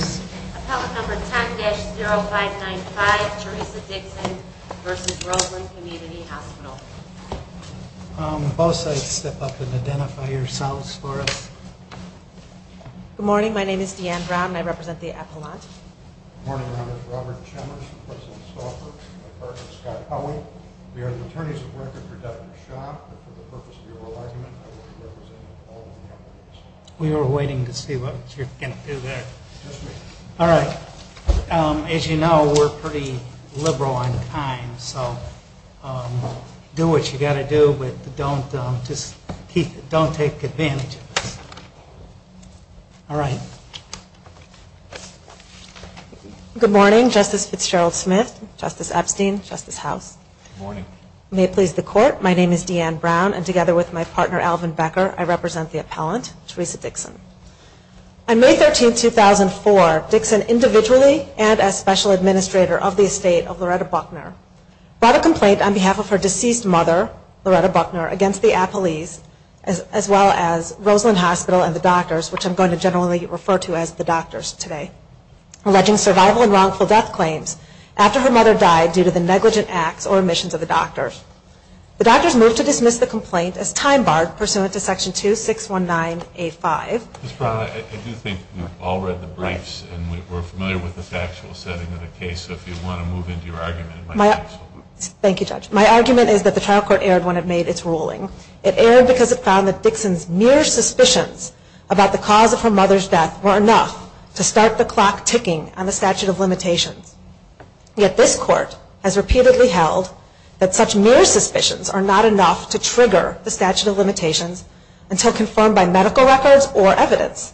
Appellant number 10-0595, Theresa Dixon v. Roseland Community Hospital Both sides step up and identify yourselves for us Good morning, my name is Deanne Brown and I represent the appellant Good morning, my name is Robert Chemmers and I represent my partner Scott Howey We are the attorneys of record for Dr. Schock and for the purpose of the oral argument I will be representing all of the appellants We were waiting to see what you were going to do there Alright, as you know we are pretty liberal on time so do what you have to do but don't take advantage of us Alright Good morning, Justice Fitzgerald Smith, Justice Epstein, Justice House Good morning May it please the court, my name is Deanne Brown and together with my partner Alvin Becker I represent the appellant, Theresa Dixon On May 13, 2004, Dixon individually and as special administrator of the estate of Loretta Buckner brought a complaint on behalf of her deceased mother, Loretta Buckner, against the appellees as well as Roseland Hospital and the doctors which I'm going to generally refer to as the doctors today alleging survival and wrongful death claims after her mother died due to the negligent acts or omissions of the doctors The doctors moved to dismiss the complaint as time barred pursuant to section 2619A5 Ms. Brown, I do think we've all read the briefs and we're familiar with the factual setting of the case so if you want to move into your argument Thank you judge, my argument is that the trial court erred when it made its ruling It erred because it found that Dixon's mere suspicions about the cause of her mother's death were enough to start the clock ticking on the statute of limitations Yet this court has repeatedly held that such mere suspicions are not enough to trigger the statute of limitations until confirmed by medical records or evidence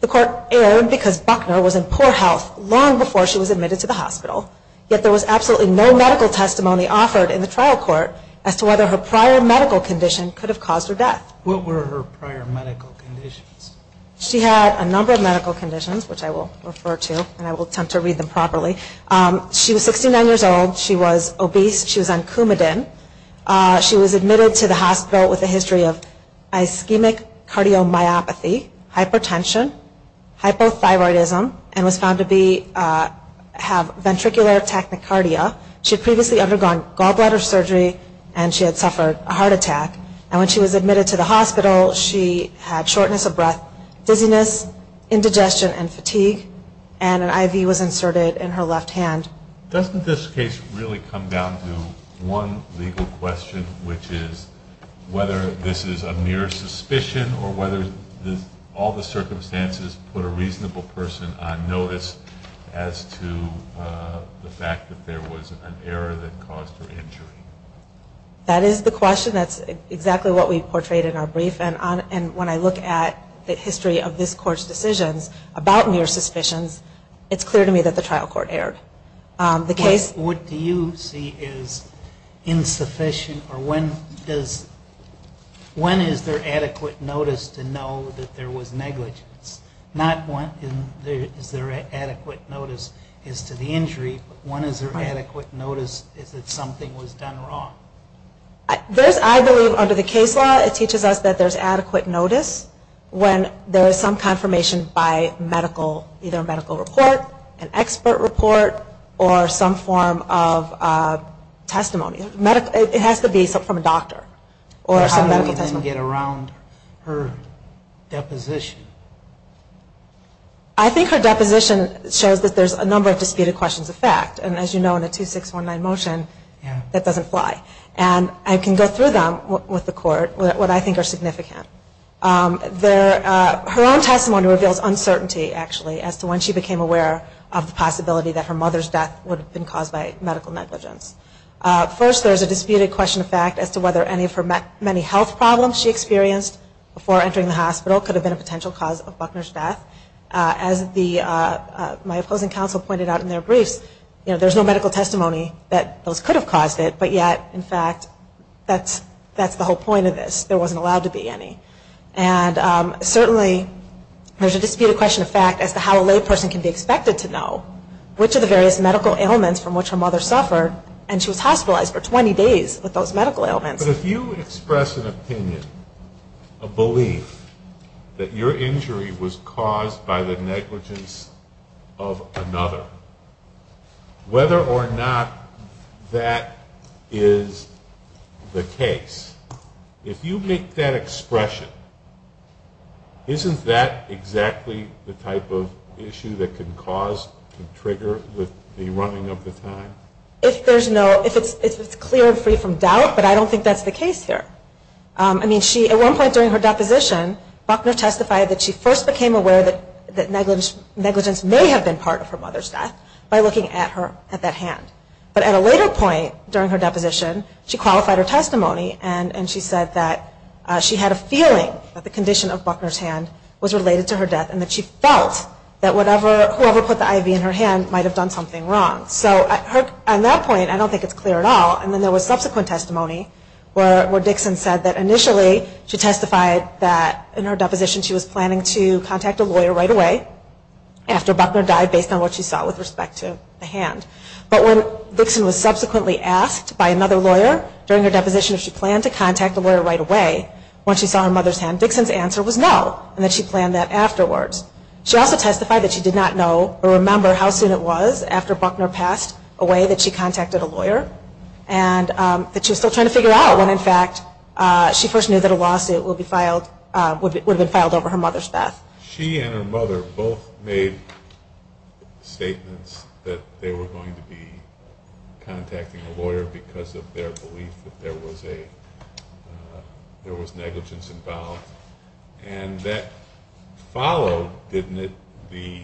The court erred because Buckner was in poor health long before she was admitted to the hospital Yet there was absolutely no medical testimony offered in the trial court as to whether her prior medical condition could have caused her death What were her prior medical conditions? She had a number of medical conditions which I will refer to and I will attempt to read them properly She was 69 years old, she was obese, she was on Coumadin She was admitted to the hospital with a history of ischemic cardiomyopathy, hypertension, hypothyroidism and was found to have ventricular tachycardia She had previously undergone gallbladder surgery and she had suffered a heart attack and when she was admitted to the hospital she had shortness of breath, dizziness, indigestion and fatigue and an IV was inserted in her left hand Doesn't this case really come down to one legal question which is whether this is a mere suspicion or whether all the circumstances put a reasonable person on notice as to the fact that there was an error that caused her injury That is the question, that's exactly what we portrayed in our brief and when I look at the history of this court's decisions about mere suspicions it's clear to me that the trial court erred What do you see as insufficient or when is there adequate notice to know that there was negligence Not when is there adequate notice as to the injury but when is there adequate notice that something was done wrong I believe under the case law it teaches us that there is adequate notice when there is some confirmation by medical, either a medical report an expert report or some form of testimony It has to be from a doctor or some medical testimony How do we then get around her deposition I think her deposition shows that there's a number of disputed questions of fact and as you know in a 2619 motion that doesn't fly and I can go through them with the court, what I think are significant Her own testimony reveals uncertainty actually as to when she became aware of the possibility that her mother's death would have been caused by medical negligence First there's a disputed question of fact as to whether any of her many health problems she experienced before entering the hospital could have been a potential cause of Buckner's death As my opposing counsel pointed out in their briefs there's no medical testimony that those could have caused it but yet in fact that's the whole point of this, there wasn't allowed to be any and certainly there's a disputed question of fact as to how a lay person can be expected to know which of the various medical ailments from which her mother suffered and she was hospitalized for 20 days with those medical ailments But if you express an opinion, a belief that your injury was caused by the negligence of another whether or not that is the case, if you make that expression isn't that exactly the type of issue that can cause, can trigger the running of the time? If there's no, if it's clear and free from doubt, but I don't think that's the case here I mean she, at one point during her deposition, Buckner testified that she first became aware that negligence may have been part of her mother's death by looking at her, at that hand But at a later point during her deposition, she qualified her testimony and she said that she had a feeling that the condition of Buckner's hand was related to her death and that she felt that whoever put the IV in her hand might have done something wrong So at that point, I don't think it's clear at all and then there was subsequent testimony where Dixon said that initially she testified that in her deposition she was planning to contact a lawyer right away after Buckner died based on what she saw with respect to the hand But when Dixon was subsequently asked by another lawyer during her deposition if she planned to contact a lawyer right away when she saw her mother's hand Dixon's answer was no, and that she planned that afterwards She also testified that she did not know or remember how soon it was after Buckner passed away that she contacted a lawyer and that she was still trying to figure out when in fact she first knew that a lawsuit would have been filed over her mother's death She and her mother both made statements that they were going to be contacting a lawyer because of their belief that there was negligence involved And that followed, didn't it, the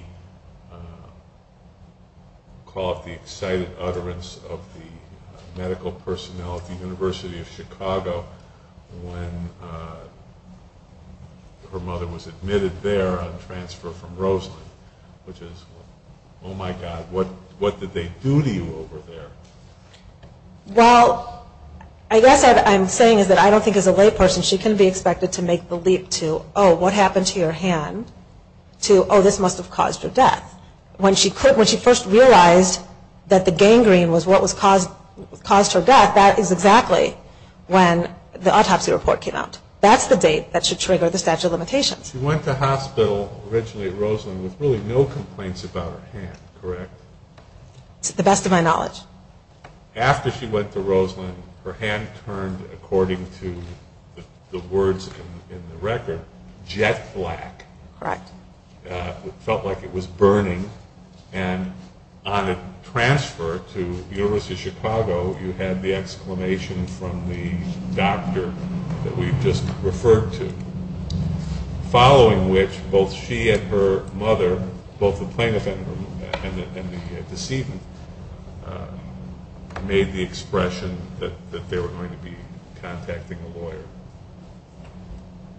call of the excited utterance of the medical personnel at the University of Chicago when her mother was admitted there on transfer from Roseland which is, oh my God, what did they do to you over there? Well, I guess what I'm saying is that I don't think as a layperson she can be expected to make the leap to, oh, what happened to your hand? To, oh, this must have caused her death When she first realized that the gangrene was what caused her death that is exactly when the autopsy report came out That's the date that should trigger the statute of limitations She went to hospital originally at Roseland with really no complaints about her hand, correct? To the best of my knowledge After she went to Roseland, her hand turned, according to the words in the record, jet black Correct It felt like it was burning And on a transfer to the University of Chicago you had the exclamation from the doctor that we've just referred to Following which, both she and her mother, both the plaintiff and the deceived made the expression that they were going to be contacting a lawyer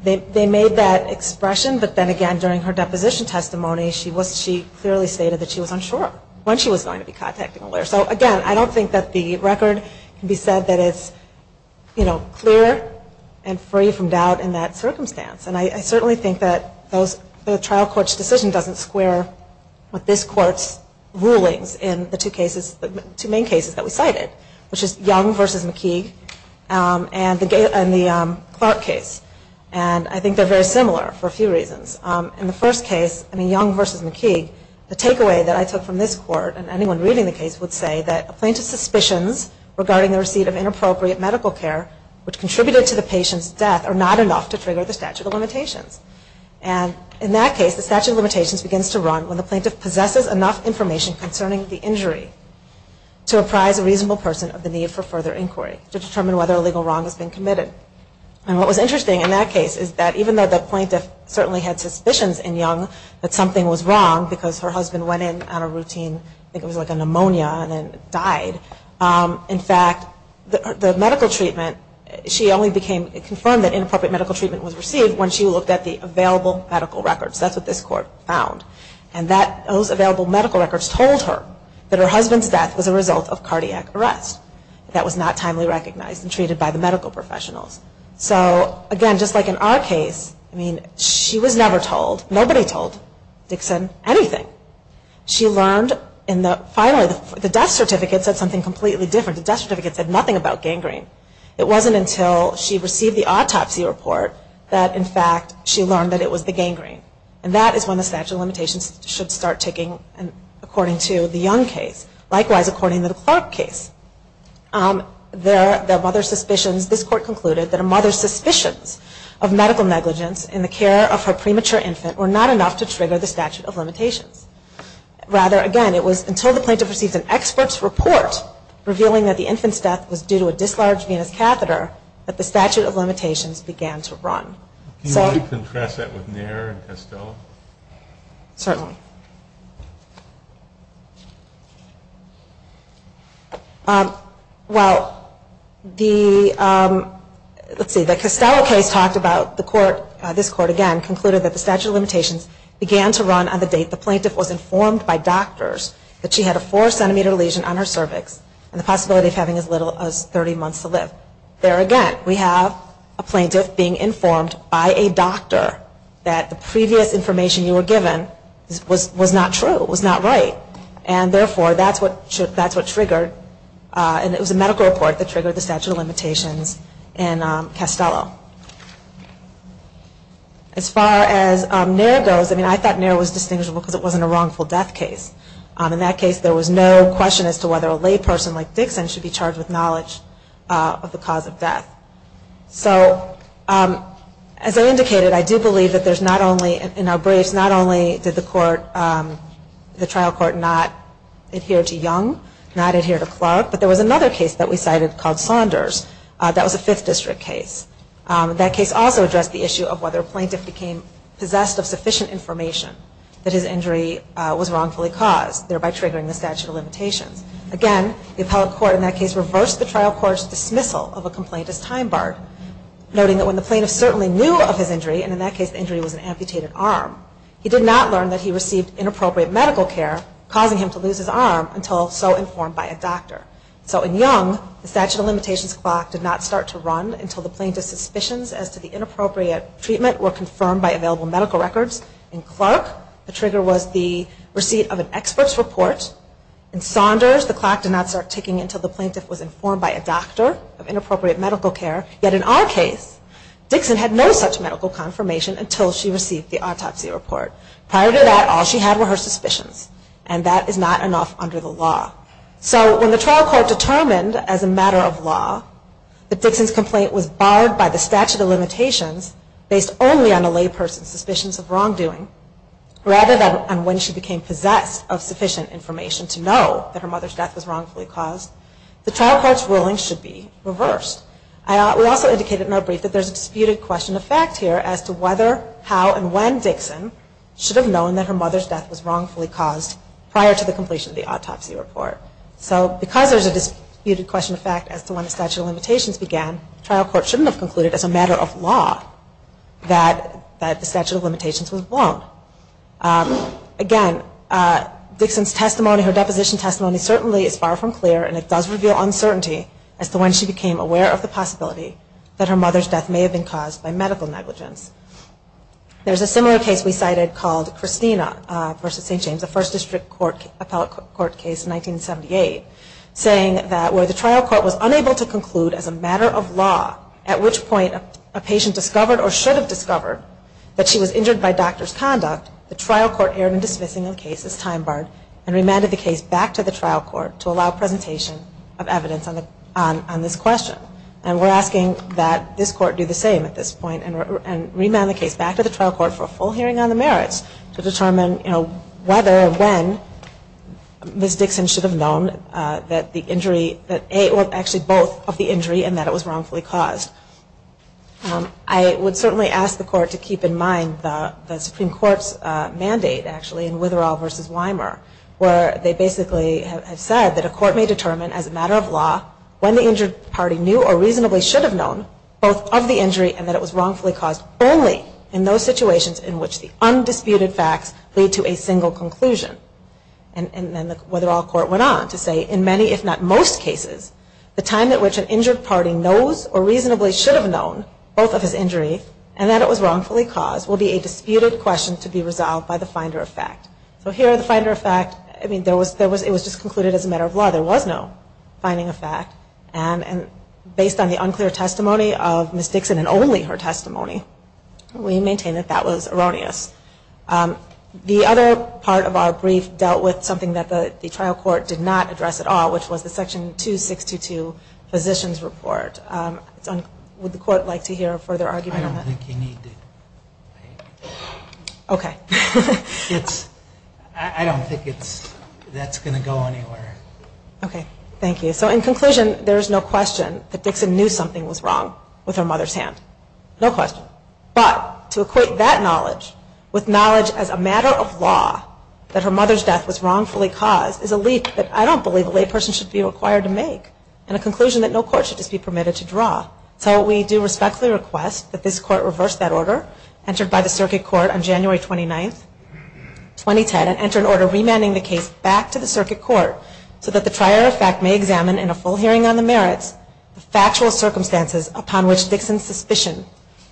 They made that expression, but then again, during her deposition testimony she clearly stated that she was unsure when she was going to be contacting a lawyer So again, I don't think that the record can be said that it's clear and free from doubt in that circumstance And I certainly think that the trial court's decision doesn't square with this court's rulings in the two main cases that we cited which is Young v. McKeague and the Clark case And I think they're very similar for a few reasons In the first case, Young v. McKeague, the takeaway that I took from this court and anyone reading the case would say that a plaintiff's suspicions regarding the receipt of inappropriate medical care which contributed to the patient's death are not enough to trigger the statute of limitations And in that case, the statute of limitations begins to run when the plaintiff possesses enough information concerning the injury to apprise a reasonable person of the need for further inquiry to determine whether a legal wrong has been committed And what was interesting in that case is that even though the plaintiff certainly had suspicions in Young that something was wrong because her husband went in on a routine I think it was like a pneumonia and then died In fact, the medical treatment She only confirmed that inappropriate medical treatment was received when she looked at the available medical records That's what this court found And those available medical records told her that her husband's death was a result of cardiac arrest That was not timely recognized and treated by the medical professionals So again, just like in our case She was never told, nobody told Dixon anything Finally, the death certificate said something completely different The death certificate said nothing about gangrene It wasn't until she received the autopsy report that in fact she learned that it was the gangrene And that is when the statute of limitations should start ticking according to the Young case Likewise, according to the Clark case This court concluded that a mother's suspicions of medical negligence in the care of her premature infant were not enough to trigger the statute of limitations Rather, again, it was until the plaintiff received an expert's report revealing that the infant's death was due to a dislarged venous catheter that the statute of limitations began to run Can you contrast that with Nair and Castello? Certainly Well, the... Let's see, the Castello case talked about This court, again, concluded that the statute of limitations began to run on the date the plaintiff was informed by doctors that she had a four centimeter lesion on her cervix and the possibility of having as little as 30 months to live There again, we have a plaintiff being informed by a doctor that the previous information you were given was not true, was not right And therefore, that's what triggered And it was a medical report that triggered the statute of limitations in Castello As far as Nair goes I mean, I thought Nair was distinguishable because it wasn't a wrongful death case In that case, there was no question as to whether a layperson like Dixon should be charged with knowledge of the cause of death So, as I indicated I do believe that there's not only In our briefs, not only did the trial court not adhere to Young, not adhere to Clark But there was another case that we cited called Saunders That was a 5th district case That case also addressed the issue of whether a plaintiff became possessed of sufficient information that his injury was wrongfully caused thereby triggering the statute of limitations Again, the appellate court in that case reversed the trial court's dismissal of a complaint as time barred noting that when the plaintiff certainly knew of his injury and in that case the injury was an amputated arm he did not learn that he received inappropriate medical care causing him to lose his arm until so informed by a doctor So in Young, the statute of limitations clock did not start to run until the plaintiff's suspicions as to the inappropriate treatment were confirmed by available medical records In Clark, the trigger was the receipt of an expert's report In Saunders, the clock did not start ticking until the plaintiff was informed by a doctor of inappropriate medical care Yet in our case, Dixon had no such medical confirmation until she received the autopsy report Prior to that, all she had were her suspicions and that is not enough under the law So when the trial court determined as a matter of law that Dixon's complaint was barred by the statute of limitations based only on a layperson's suspicions of wrongdoing rather than on when she became possessed of sufficient information to know that her mother's death was wrongfully caused the trial court's ruling should be reversed We also indicated in our brief that there's a disputed question of fact here as to whether, how, and when Dixon should have known that her mother's death was wrongfully caused prior to the completion of the autopsy report So because there's a disputed question of fact as to when the statute of limitations began the trial court shouldn't have concluded as a matter of law that the statute of limitations was blown Again, Dixon's testimony her deposition testimony certainly is far from clear and it does reveal uncertainty as to when she became aware of the possibility that her mother's death may have been caused by medical negligence There's a similar case we cited called Christina v. St. James a first district appellate court case in 1978 saying that where the trial court was unable to conclude as a matter of law at which point a patient discovered or should have discovered that she was injured by doctor's conduct the trial court erred in dismissing the case as time barred and remanded the case back to the trial court to allow presentation of evidence on this question and we're asking that this court do the same at this point and remand the case back to the trial court for a full hearing on the merits to determine whether or when Ms. Dixon should have known that both of the injury and that it was wrongfully caused I would certainly ask the court to keep in mind the Supreme Court's mandate in Witherall v. Weimer where they basically have said that a court may determine as a matter of law when the injured party knew or reasonably should have known both of the injury and that it was wrongfully caused only in those situations in which the undisputed facts lead to a single conclusion and Witherall court went on to say in many if not most cases the time at which an injured party knows or reasonably should have known both of his injury and that it was wrongfully caused will be a disputed question to be resolved by the finder of fact so here the finder of fact it was just concluded as a matter of law there was no finding of fact and based on the unclear testimony of Ms. Dixon and only her testimony we maintain that that was erroneous the other part of our brief dealt with something that the trial court did not address at all which was the section 2622 physician's report would the court like to hear a further argument on that? I don't think you need to ok I don't think that's going to go anywhere ok thank you so in conclusion there is no question that Dixon knew something was wrong with her mother's hand no question but to equate that knowledge with knowledge as a matter of law that her mother's death was wrongfully caused is a leap that I don't believe a layperson should be required to make and a conclusion that no court should be permitted to draw so we do respectfully request that this court reverse that order entered by the circuit court on January 29, 2010 and enter an order remanding the case back to the circuit court so that the trier of fact may examine in a full hearing on the merits the factual circumstances upon which Dixon's suspicion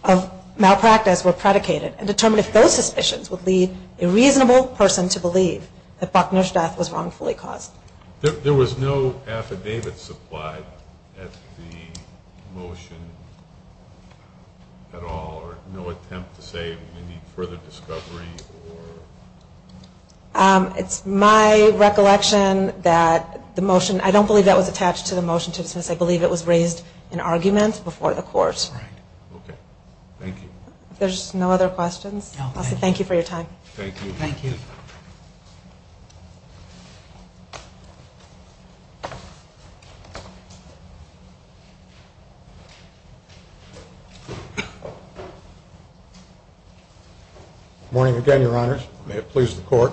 of malpractice were predicated and determine if those suspicions would lead a reasonable person to believe that Buckner's death was wrongfully caused there was no affidavit supplied at the motion at all or no attempt to say we need further discovery or it's my recollection that the motion, I don't believe that was attached to the motion I believe it was raised in argument before the court there's no other questions thank you for your time morning again your honors may it please the court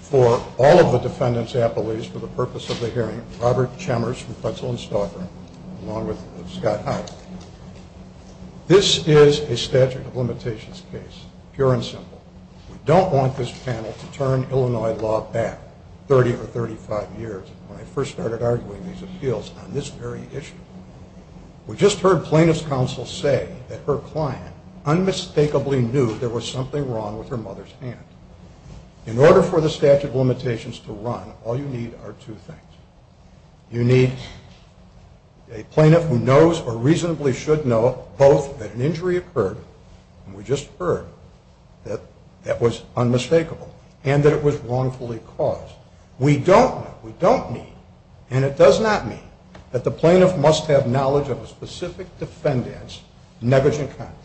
for all of the defendants appellees for the purpose of the hearing Robert Chambers along with Scott Hyde this is a statute of limitations case pure and simple we don't want this panel to turn Illinois law back 30 or 35 years when I first started arguing these appeals on this very issue we just heard plaintiff's counsel say that her client unmistakably knew there was something wrong with her mother's hand in order for the statute of limitations to run all you need are two things you need a plaintiff who knows or reasonably should know both that an injury occurred and we just heard that that was unmistakable and that it was wrongfully caused we don't know, we don't need and it does not mean that the plaintiff must have knowledge of a specific defendant's negligent conduct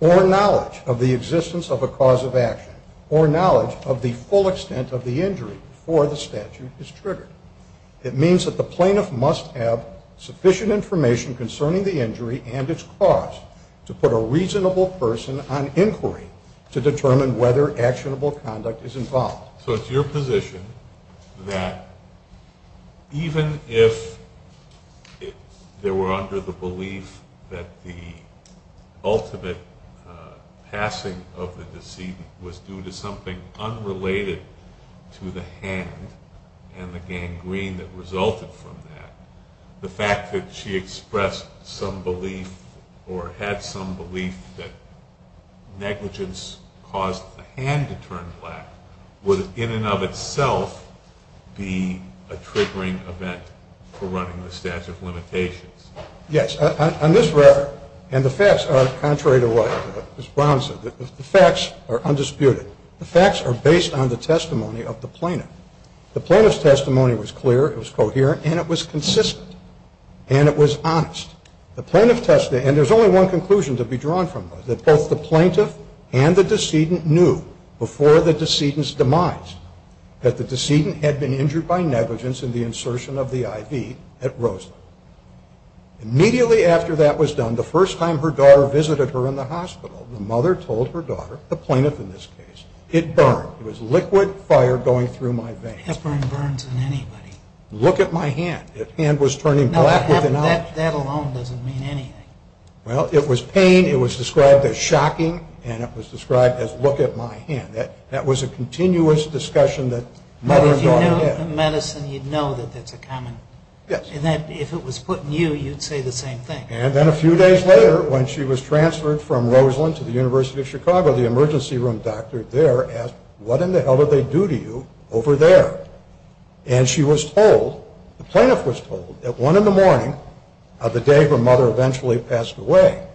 or knowledge of the existence of a cause of action or knowledge of the full extent of the injury before the statute is triggered it means that the plaintiff must have sufficient information concerning the injury and its cause to put a reasonable person on inquiry to determine whether actionable conduct is involved so it's your position that even if there were under the belief that the ultimate passing of the decedent was due to something unrelated to the hand and the gangrene that resulted from that the fact that she expressed some belief or had some belief that negligence caused the hand to turn black would in and of itself be a triggering event for running the statute of limitations yes, on this record and the facts are contrary to what Ms. Brown said the facts are undisputed the facts are based on the testimony of the plaintiff the plaintiff's testimony was clear, it was coherent and it was consistent and it was honest and there's only one conclusion to be drawn from this that both the plaintiff and the decedent knew before the decedent's demise that the decedent had been injured by negligence in the insertion of the IV at Rosalind immediately after that was done, the first time her daughter visited her in the hospital the mother told her daughter, the plaintiff in this case it burned, it was liquid fire going through my veins look at my hand that hand was turning black that alone doesn't mean anything it was pain, it was described as shocking and it was described as look at my hand that was a continuous discussion if it was put in you, you'd say the same thing and then a few days later when she was transferred from Rosalind to the University of Chicago the emergency room doctor there asked what in the hell did they do to you over there and she was told, the plaintiff was told that one in the morning of the day her mother eventually passed away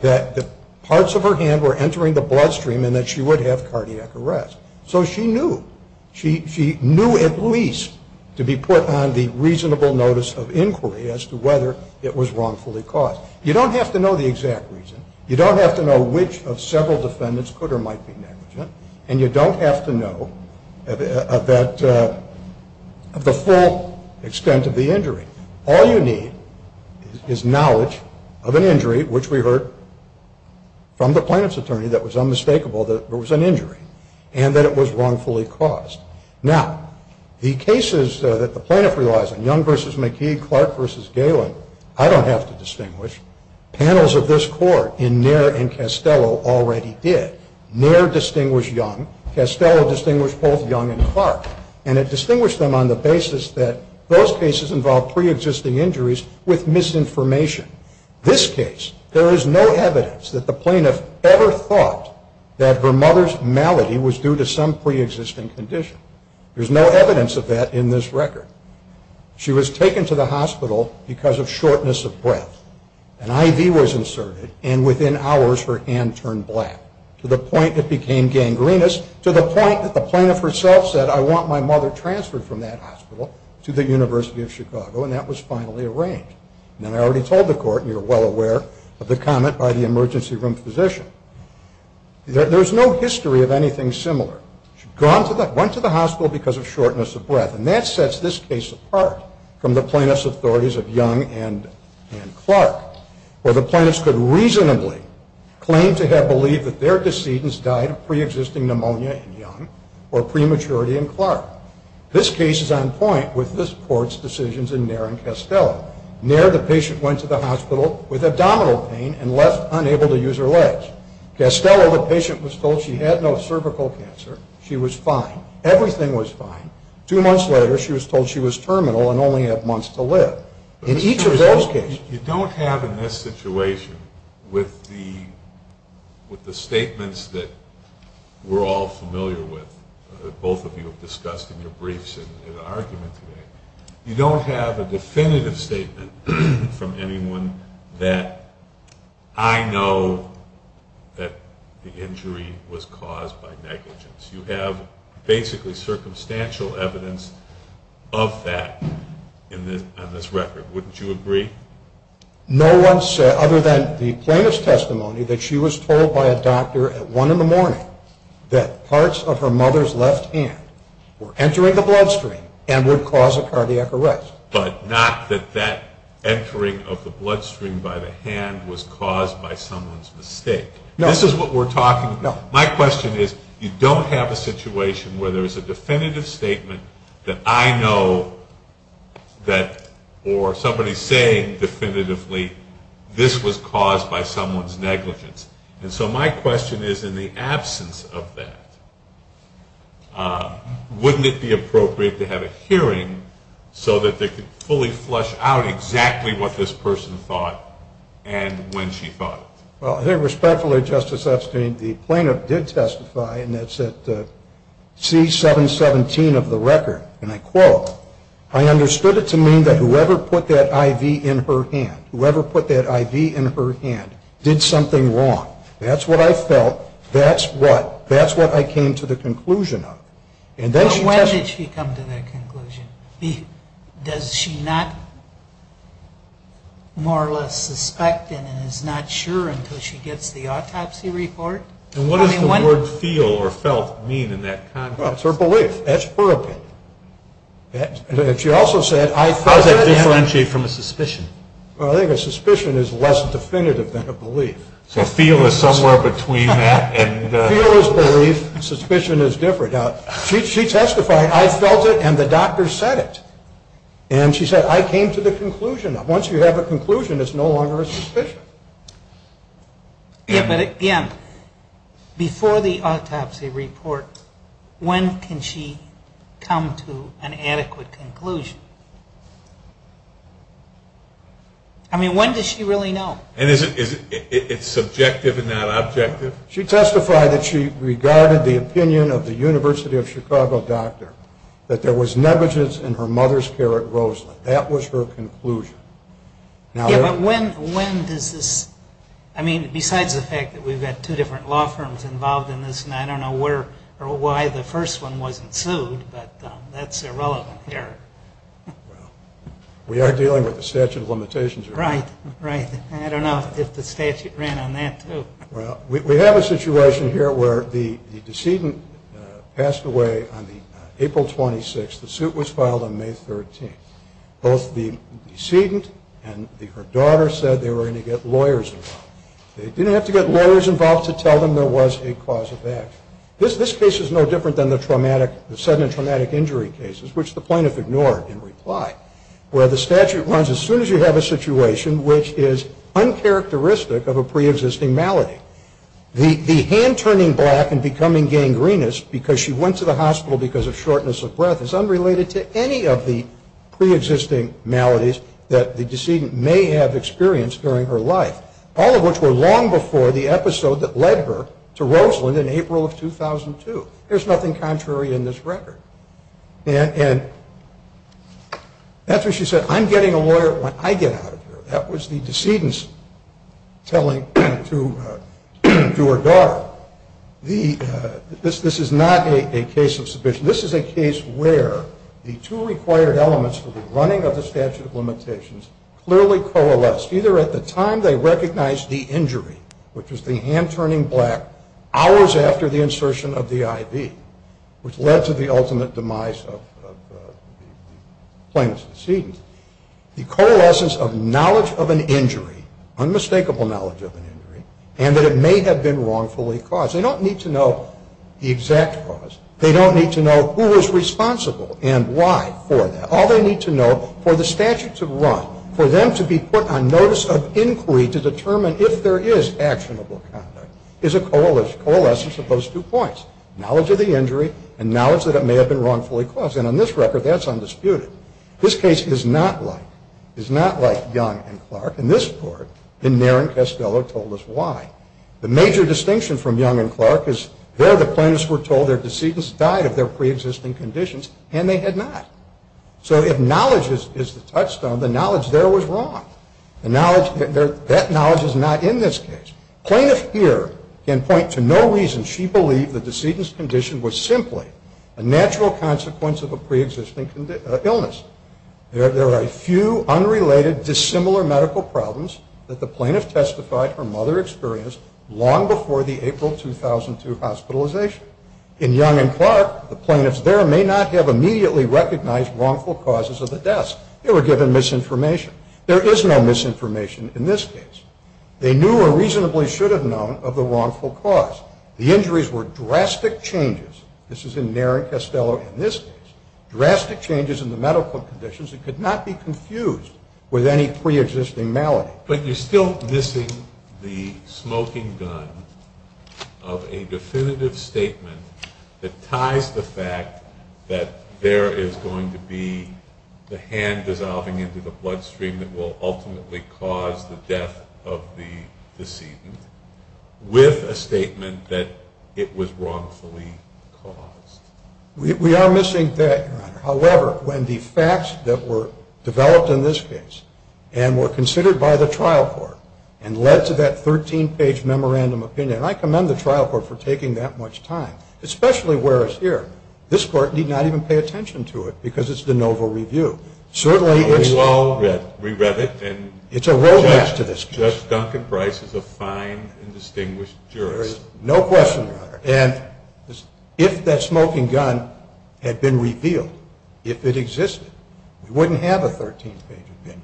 that parts of her hand were entering the blood stream and that she would have cardiac arrest so she knew, she knew at least to be put on the reasonable notice of inquiry as to whether it was wrongfully caused you don't have to know the exact reason you don't have to know which of several defendants could or might be negligent and you don't have to know the full extent of the injury all you need is knowledge of an injury, which we heard from the plaintiff's attorney that it was unmistakable that it was an injury and that it was wrongfully caused now, the cases that the plaintiff relies on Young v. McKee, Clark v. Galen, I don't have to distinguish panels of this court in Nair and Castello already did Nair distinguished Young, Castello distinguished both Young and Clark and it distinguished them on the basis that those cases involved pre-existing injuries with misinformation this case, there is no evidence that the plaintiff ever thought that her mother's malady was due to some pre-existing condition there's no evidence of that in this record she was taken to the hospital because of shortness of breath an IV was inserted and within hours her hand turned black, to the point it became gangrenous to the point that the plaintiff herself said I want my mother transferred from that hospital to the University of Chicago and that was finally arranged and I already told the court, and you're well aware of the comment by the emergency room physician there's no history of anything similar she went to the hospital because of shortness of breath and that sets this case apart from the plaintiff's authorities of Young and Clark where the plaintiffs could reasonably claim to have believed that their decedents died of pre-existing pneumonia in Young or prematurity in Clark this case is on point with this court's decisions in Nair and Castello Nair, the patient went to the hospital with abdominal pain and left unable to use her legs Castello, the patient was told she had no cervical cancer she was fine, everything was fine two months later she was told she was terminal and only had months to live in each of those cases you don't have in this situation with the statements that we're all familiar with that both of you have discussed in your briefs in argument today you don't have a definitive statement from anyone that I know that the injury was caused by negligence you have basically circumstantial evidence of that on this record, wouldn't you agree? No one said, other than the plaintiff's testimony that she was told by a doctor at one in the morning that parts of her mother's left hand were entering the bloodstream and would cause a cardiac arrest but not that that entering of the bloodstream by the hand was caused by someone's mistake this is what we're talking about my question is, you don't have a situation where there is a definitive statement that I know or somebody saying definitively this was caused by someone's negligence and so my question is, in the absence of that wouldn't it be appropriate to have a hearing so that they could fully flush out exactly what this person thought and when she thought it I think respectfully, Justice Epstein, the plaintiff did testify and that's at C-717 of the record and I quote I understood it to mean that whoever put that IV in her hand did something wrong that's what I felt, that's what I came to the conclusion of but when did she come to that conclusion does she not more or less suspect and is not sure until she gets the autopsy report and what does the word feel or felt mean in that context that's her belief, that's her opinion how does that differentiate from a suspicion I think a suspicion is less definitive than a belief so feel is somewhere between that feel is belief, suspicion is different she testified, I felt it and the doctor said it and she said I came to the conclusion once you have a conclusion it's no longer a suspicion but again before the autopsy report when can she come to an adequate conclusion I mean when does she really know and is it subjective and not objective she testified that she regarded the opinion of the University of Chicago doctor that there was negligence in her mother's care at Roseland that was her conclusion I mean besides the fact that we have two different law firms involved in this and I don't know where or why the first one wasn't sued but that's irrelevant here we are dealing with the statute of limitations I don't know if the statute ran on that too we have a situation here where the decedent passed away on April 26 the suit was filed on May 13 both the decedent and her daughter said they were going to get lawyers involved they didn't have to get lawyers involved to tell them there was a cause of action this case is no different than the sudden and traumatic injury cases which the plaintiff ignored in reply where the statute runs as soon as you have a situation which is uncharacteristic of a pre-existing malady the hand turning black and becoming gangrenous because she went to the hospital because of shortness of breath is unrelated to any of the pre-existing maladies that the decedent may have experienced during her life all of which were long before the episode that led her to Roseland in April of 2002 there's nothing contrary in this record and that's when she said I'm getting a lawyer when I get out of here that was the decedent's telling to her daughter this is not a case of submission this is a case where the two required elements for the running of the statute of limitations clearly coalesced either at the time they recognized the injury which was the hand turning black hours after the insertion of the IV which led to the ultimate demise of the plaintiff's decedent the coalescence of knowledge of an injury unmistakable knowledge of an injury and that it may have been wrongfully caused they don't need to know the exact cause they don't need to know who was responsible and why for that all they need to know for the statute to run for them to be put on notice of inquiry to determine if there is actionable conduct is a coalescence of those two points knowledge of the injury and knowledge that it may have been wrongfully caused and on this record that's undisputed this case is not like Young and Clark in this court Naren Castello told us why the major distinction from Young and Clark is there the plaintiffs were told their decedent died of their pre-existing conditions and they had not so if knowledge is the touchstone the knowledge there was wrong that knowledge is not in this case plaintiff here can point to no reason she believed the decedent's condition was simply a natural consequence of a pre-existing illness there are a few unrelated dissimilar medical problems that the plaintiff testified her mother experienced long before the April 2002 hospitalization in Young and Clark the plaintiffs there may not have immediately recognized wrongful causes of the deaths they were given misinformation there is no misinformation in this case they knew or reasonably should have known of the wrongful cause the injuries were drastic changes this is in Naren Castello in this case drastic changes in the medical conditions that could not be confused with any pre-existing malady but you're still missing the smoking gun of a definitive statement that ties the fact that there is going to be the hand dissolving into the bloodstream that will ultimately cause the death of the decedent with a statement that it was wrongfully caused we are missing that however when the facts that were developed in this case and were considered by the trial court and led to that 13 page memorandum opinion I commend the trial court for taking that much time especially where as here this court need not even pay attention to it because it's de novo review we read it and judge Duncan Price is a fine and distinguished jurist no question about it if that smoking gun had been revealed if it existed we wouldn't have a 13 page opinion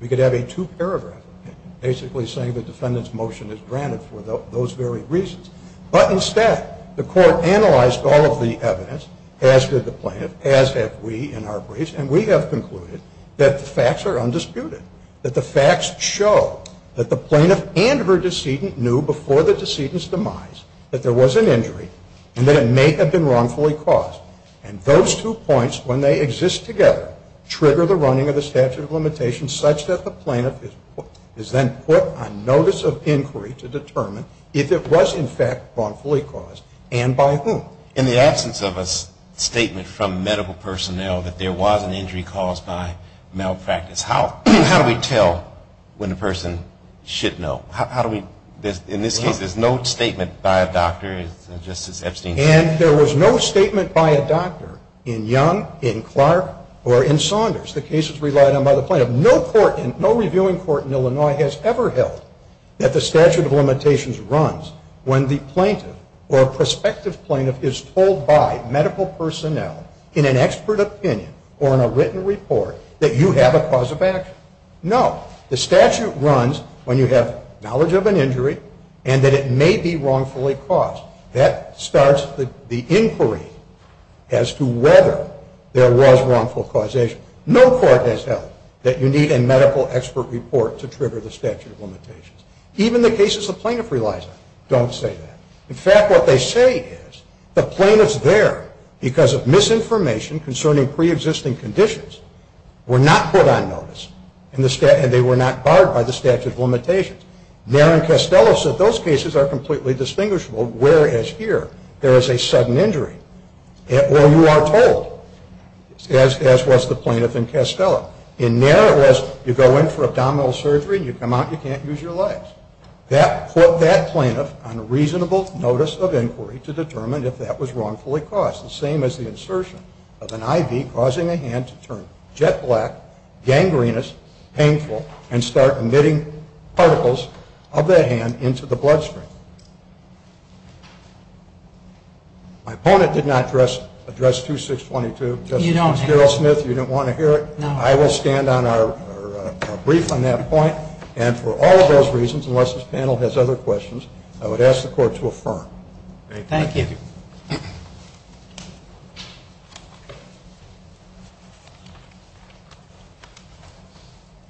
we could have a two paragraph opinion basically saying the defendant's motion is granted for those very reasons but instead the court analyzed all of the evidence as did the plaintiff as have we in our briefs and we have concluded that the facts are undisputed that the facts show that the plaintiff and her decedent knew before the decedent's demise that there was an injury and that it may have been wrongfully caused and those two points when they exist together trigger the running of the statute of limitations such that the plaintiff is then put on notice of inquiry to determine if it was in fact wrongfully caused and by whom in the absence of a statement from medical personnel that there was an injury caused by malpractice how do we tell in this case there is no statement by a doctor and there was no statement by a doctor in Young, in Clark, or in Saunders the case is relied on by the plaintiff no reviewing court in Illinois has ever held that the statute of limitations runs when the plaintiff or prospective plaintiff is told by medical personnel in an expert opinion or in a written report that you have a cause of action no the statute runs when you have knowledge of an injury and that it may be wrongfully caused that starts the inquiry as to whether there was wrongful causation no court has held that you need a medical expert report to trigger the statute of limitations even the cases the plaintiff relies on don't say that in fact what they say is the plaintiff's there because of misinformation concerning pre-existing conditions were not put on notice and they were not barred by the statute of limitations Nair and Castello said those cases are completely distinguishable whereas here there is a sudden injury well you are told as was the plaintiff in Castello in Nair it was you go in for abdominal surgery and you come out and you can't use your legs that put that plaintiff on reasonable notice of inquiry to determine if that was wrongfully caused the same as the insertion of an IV causing a hand to turn jet black, gangrenous, painful and start emitting particles of that hand into the bloodstream my opponent did not address 2622 you don't want to hear it I will stand on our brief on that point and for all of those reasons unless this panel has other questions I would ask the court to affirm Thank you I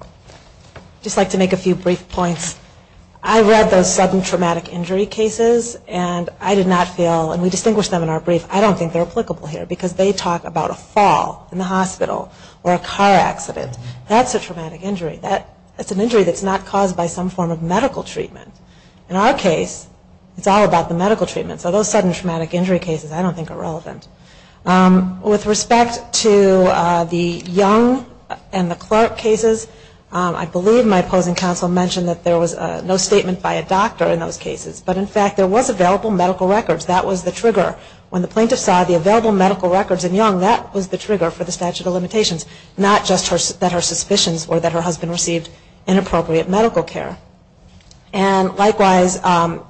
would just like to make a few brief points I read those sudden traumatic injury cases and I did not feel, and we distinguished them in our brief I don't think they are applicable here because they talk about a fall in the hospital or a car accident that's a traumatic injury that's an injury that's not caused by some form of medical treatment in our case it's all about the medical treatment so those sudden traumatic injury cases I don't think are relevant with respect to the Young and the Clark cases I believe my opposing counsel mentioned that there was no statement by a doctor in those cases but in fact there was available medical records that was the trigger when the plaintiff saw the available medical records in Young that was the trigger for the statute of limitations not just that her suspicions were that her husband received inappropriate medical care and likewise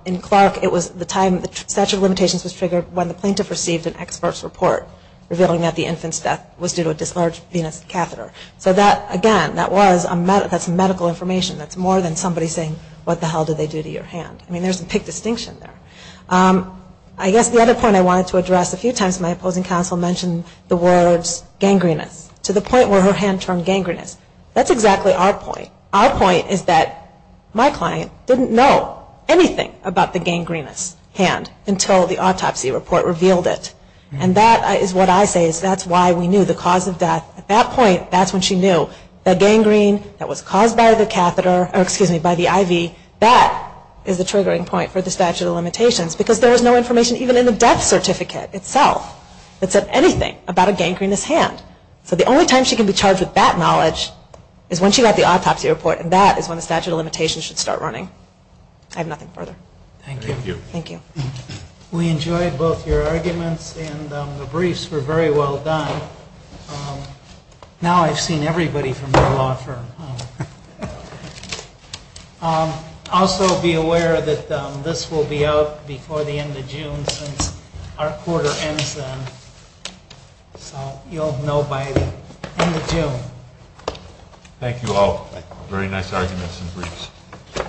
in Clark it was the time the statute of limitations was triggered when the plaintiff received an expert's report revealing that the infant's death was due to a dislodged venous catheter so again that's medical information that's more than somebody saying what the hell did they do to your hand I mean there's a big distinction there I guess the other point I wanted to address a few times my opposing counsel mentioned the words gangrenous to the point where her hand turned gangrenous that's exactly our point our point is that my client didn't know anything about the gangrenous hand until the autopsy report revealed it and that is what I say is that's why we knew the cause of death at that point that's when she knew that gangrene that was caused by the IV that is the triggering point for the statute of limitations because there is no information even in the death certificate itself that said anything about a gangrenous hand so the only time she can be charged with that knowledge is when she got the autopsy report and that is when the statute of limitations should start running I have nothing further Thank you We enjoyed both your arguments and the briefs were very well done now I've seen everybody from the law firm also be aware that this will be out before the end of June since our quarter ends then so you'll know by the end of June Thank you all very nice arguments and briefs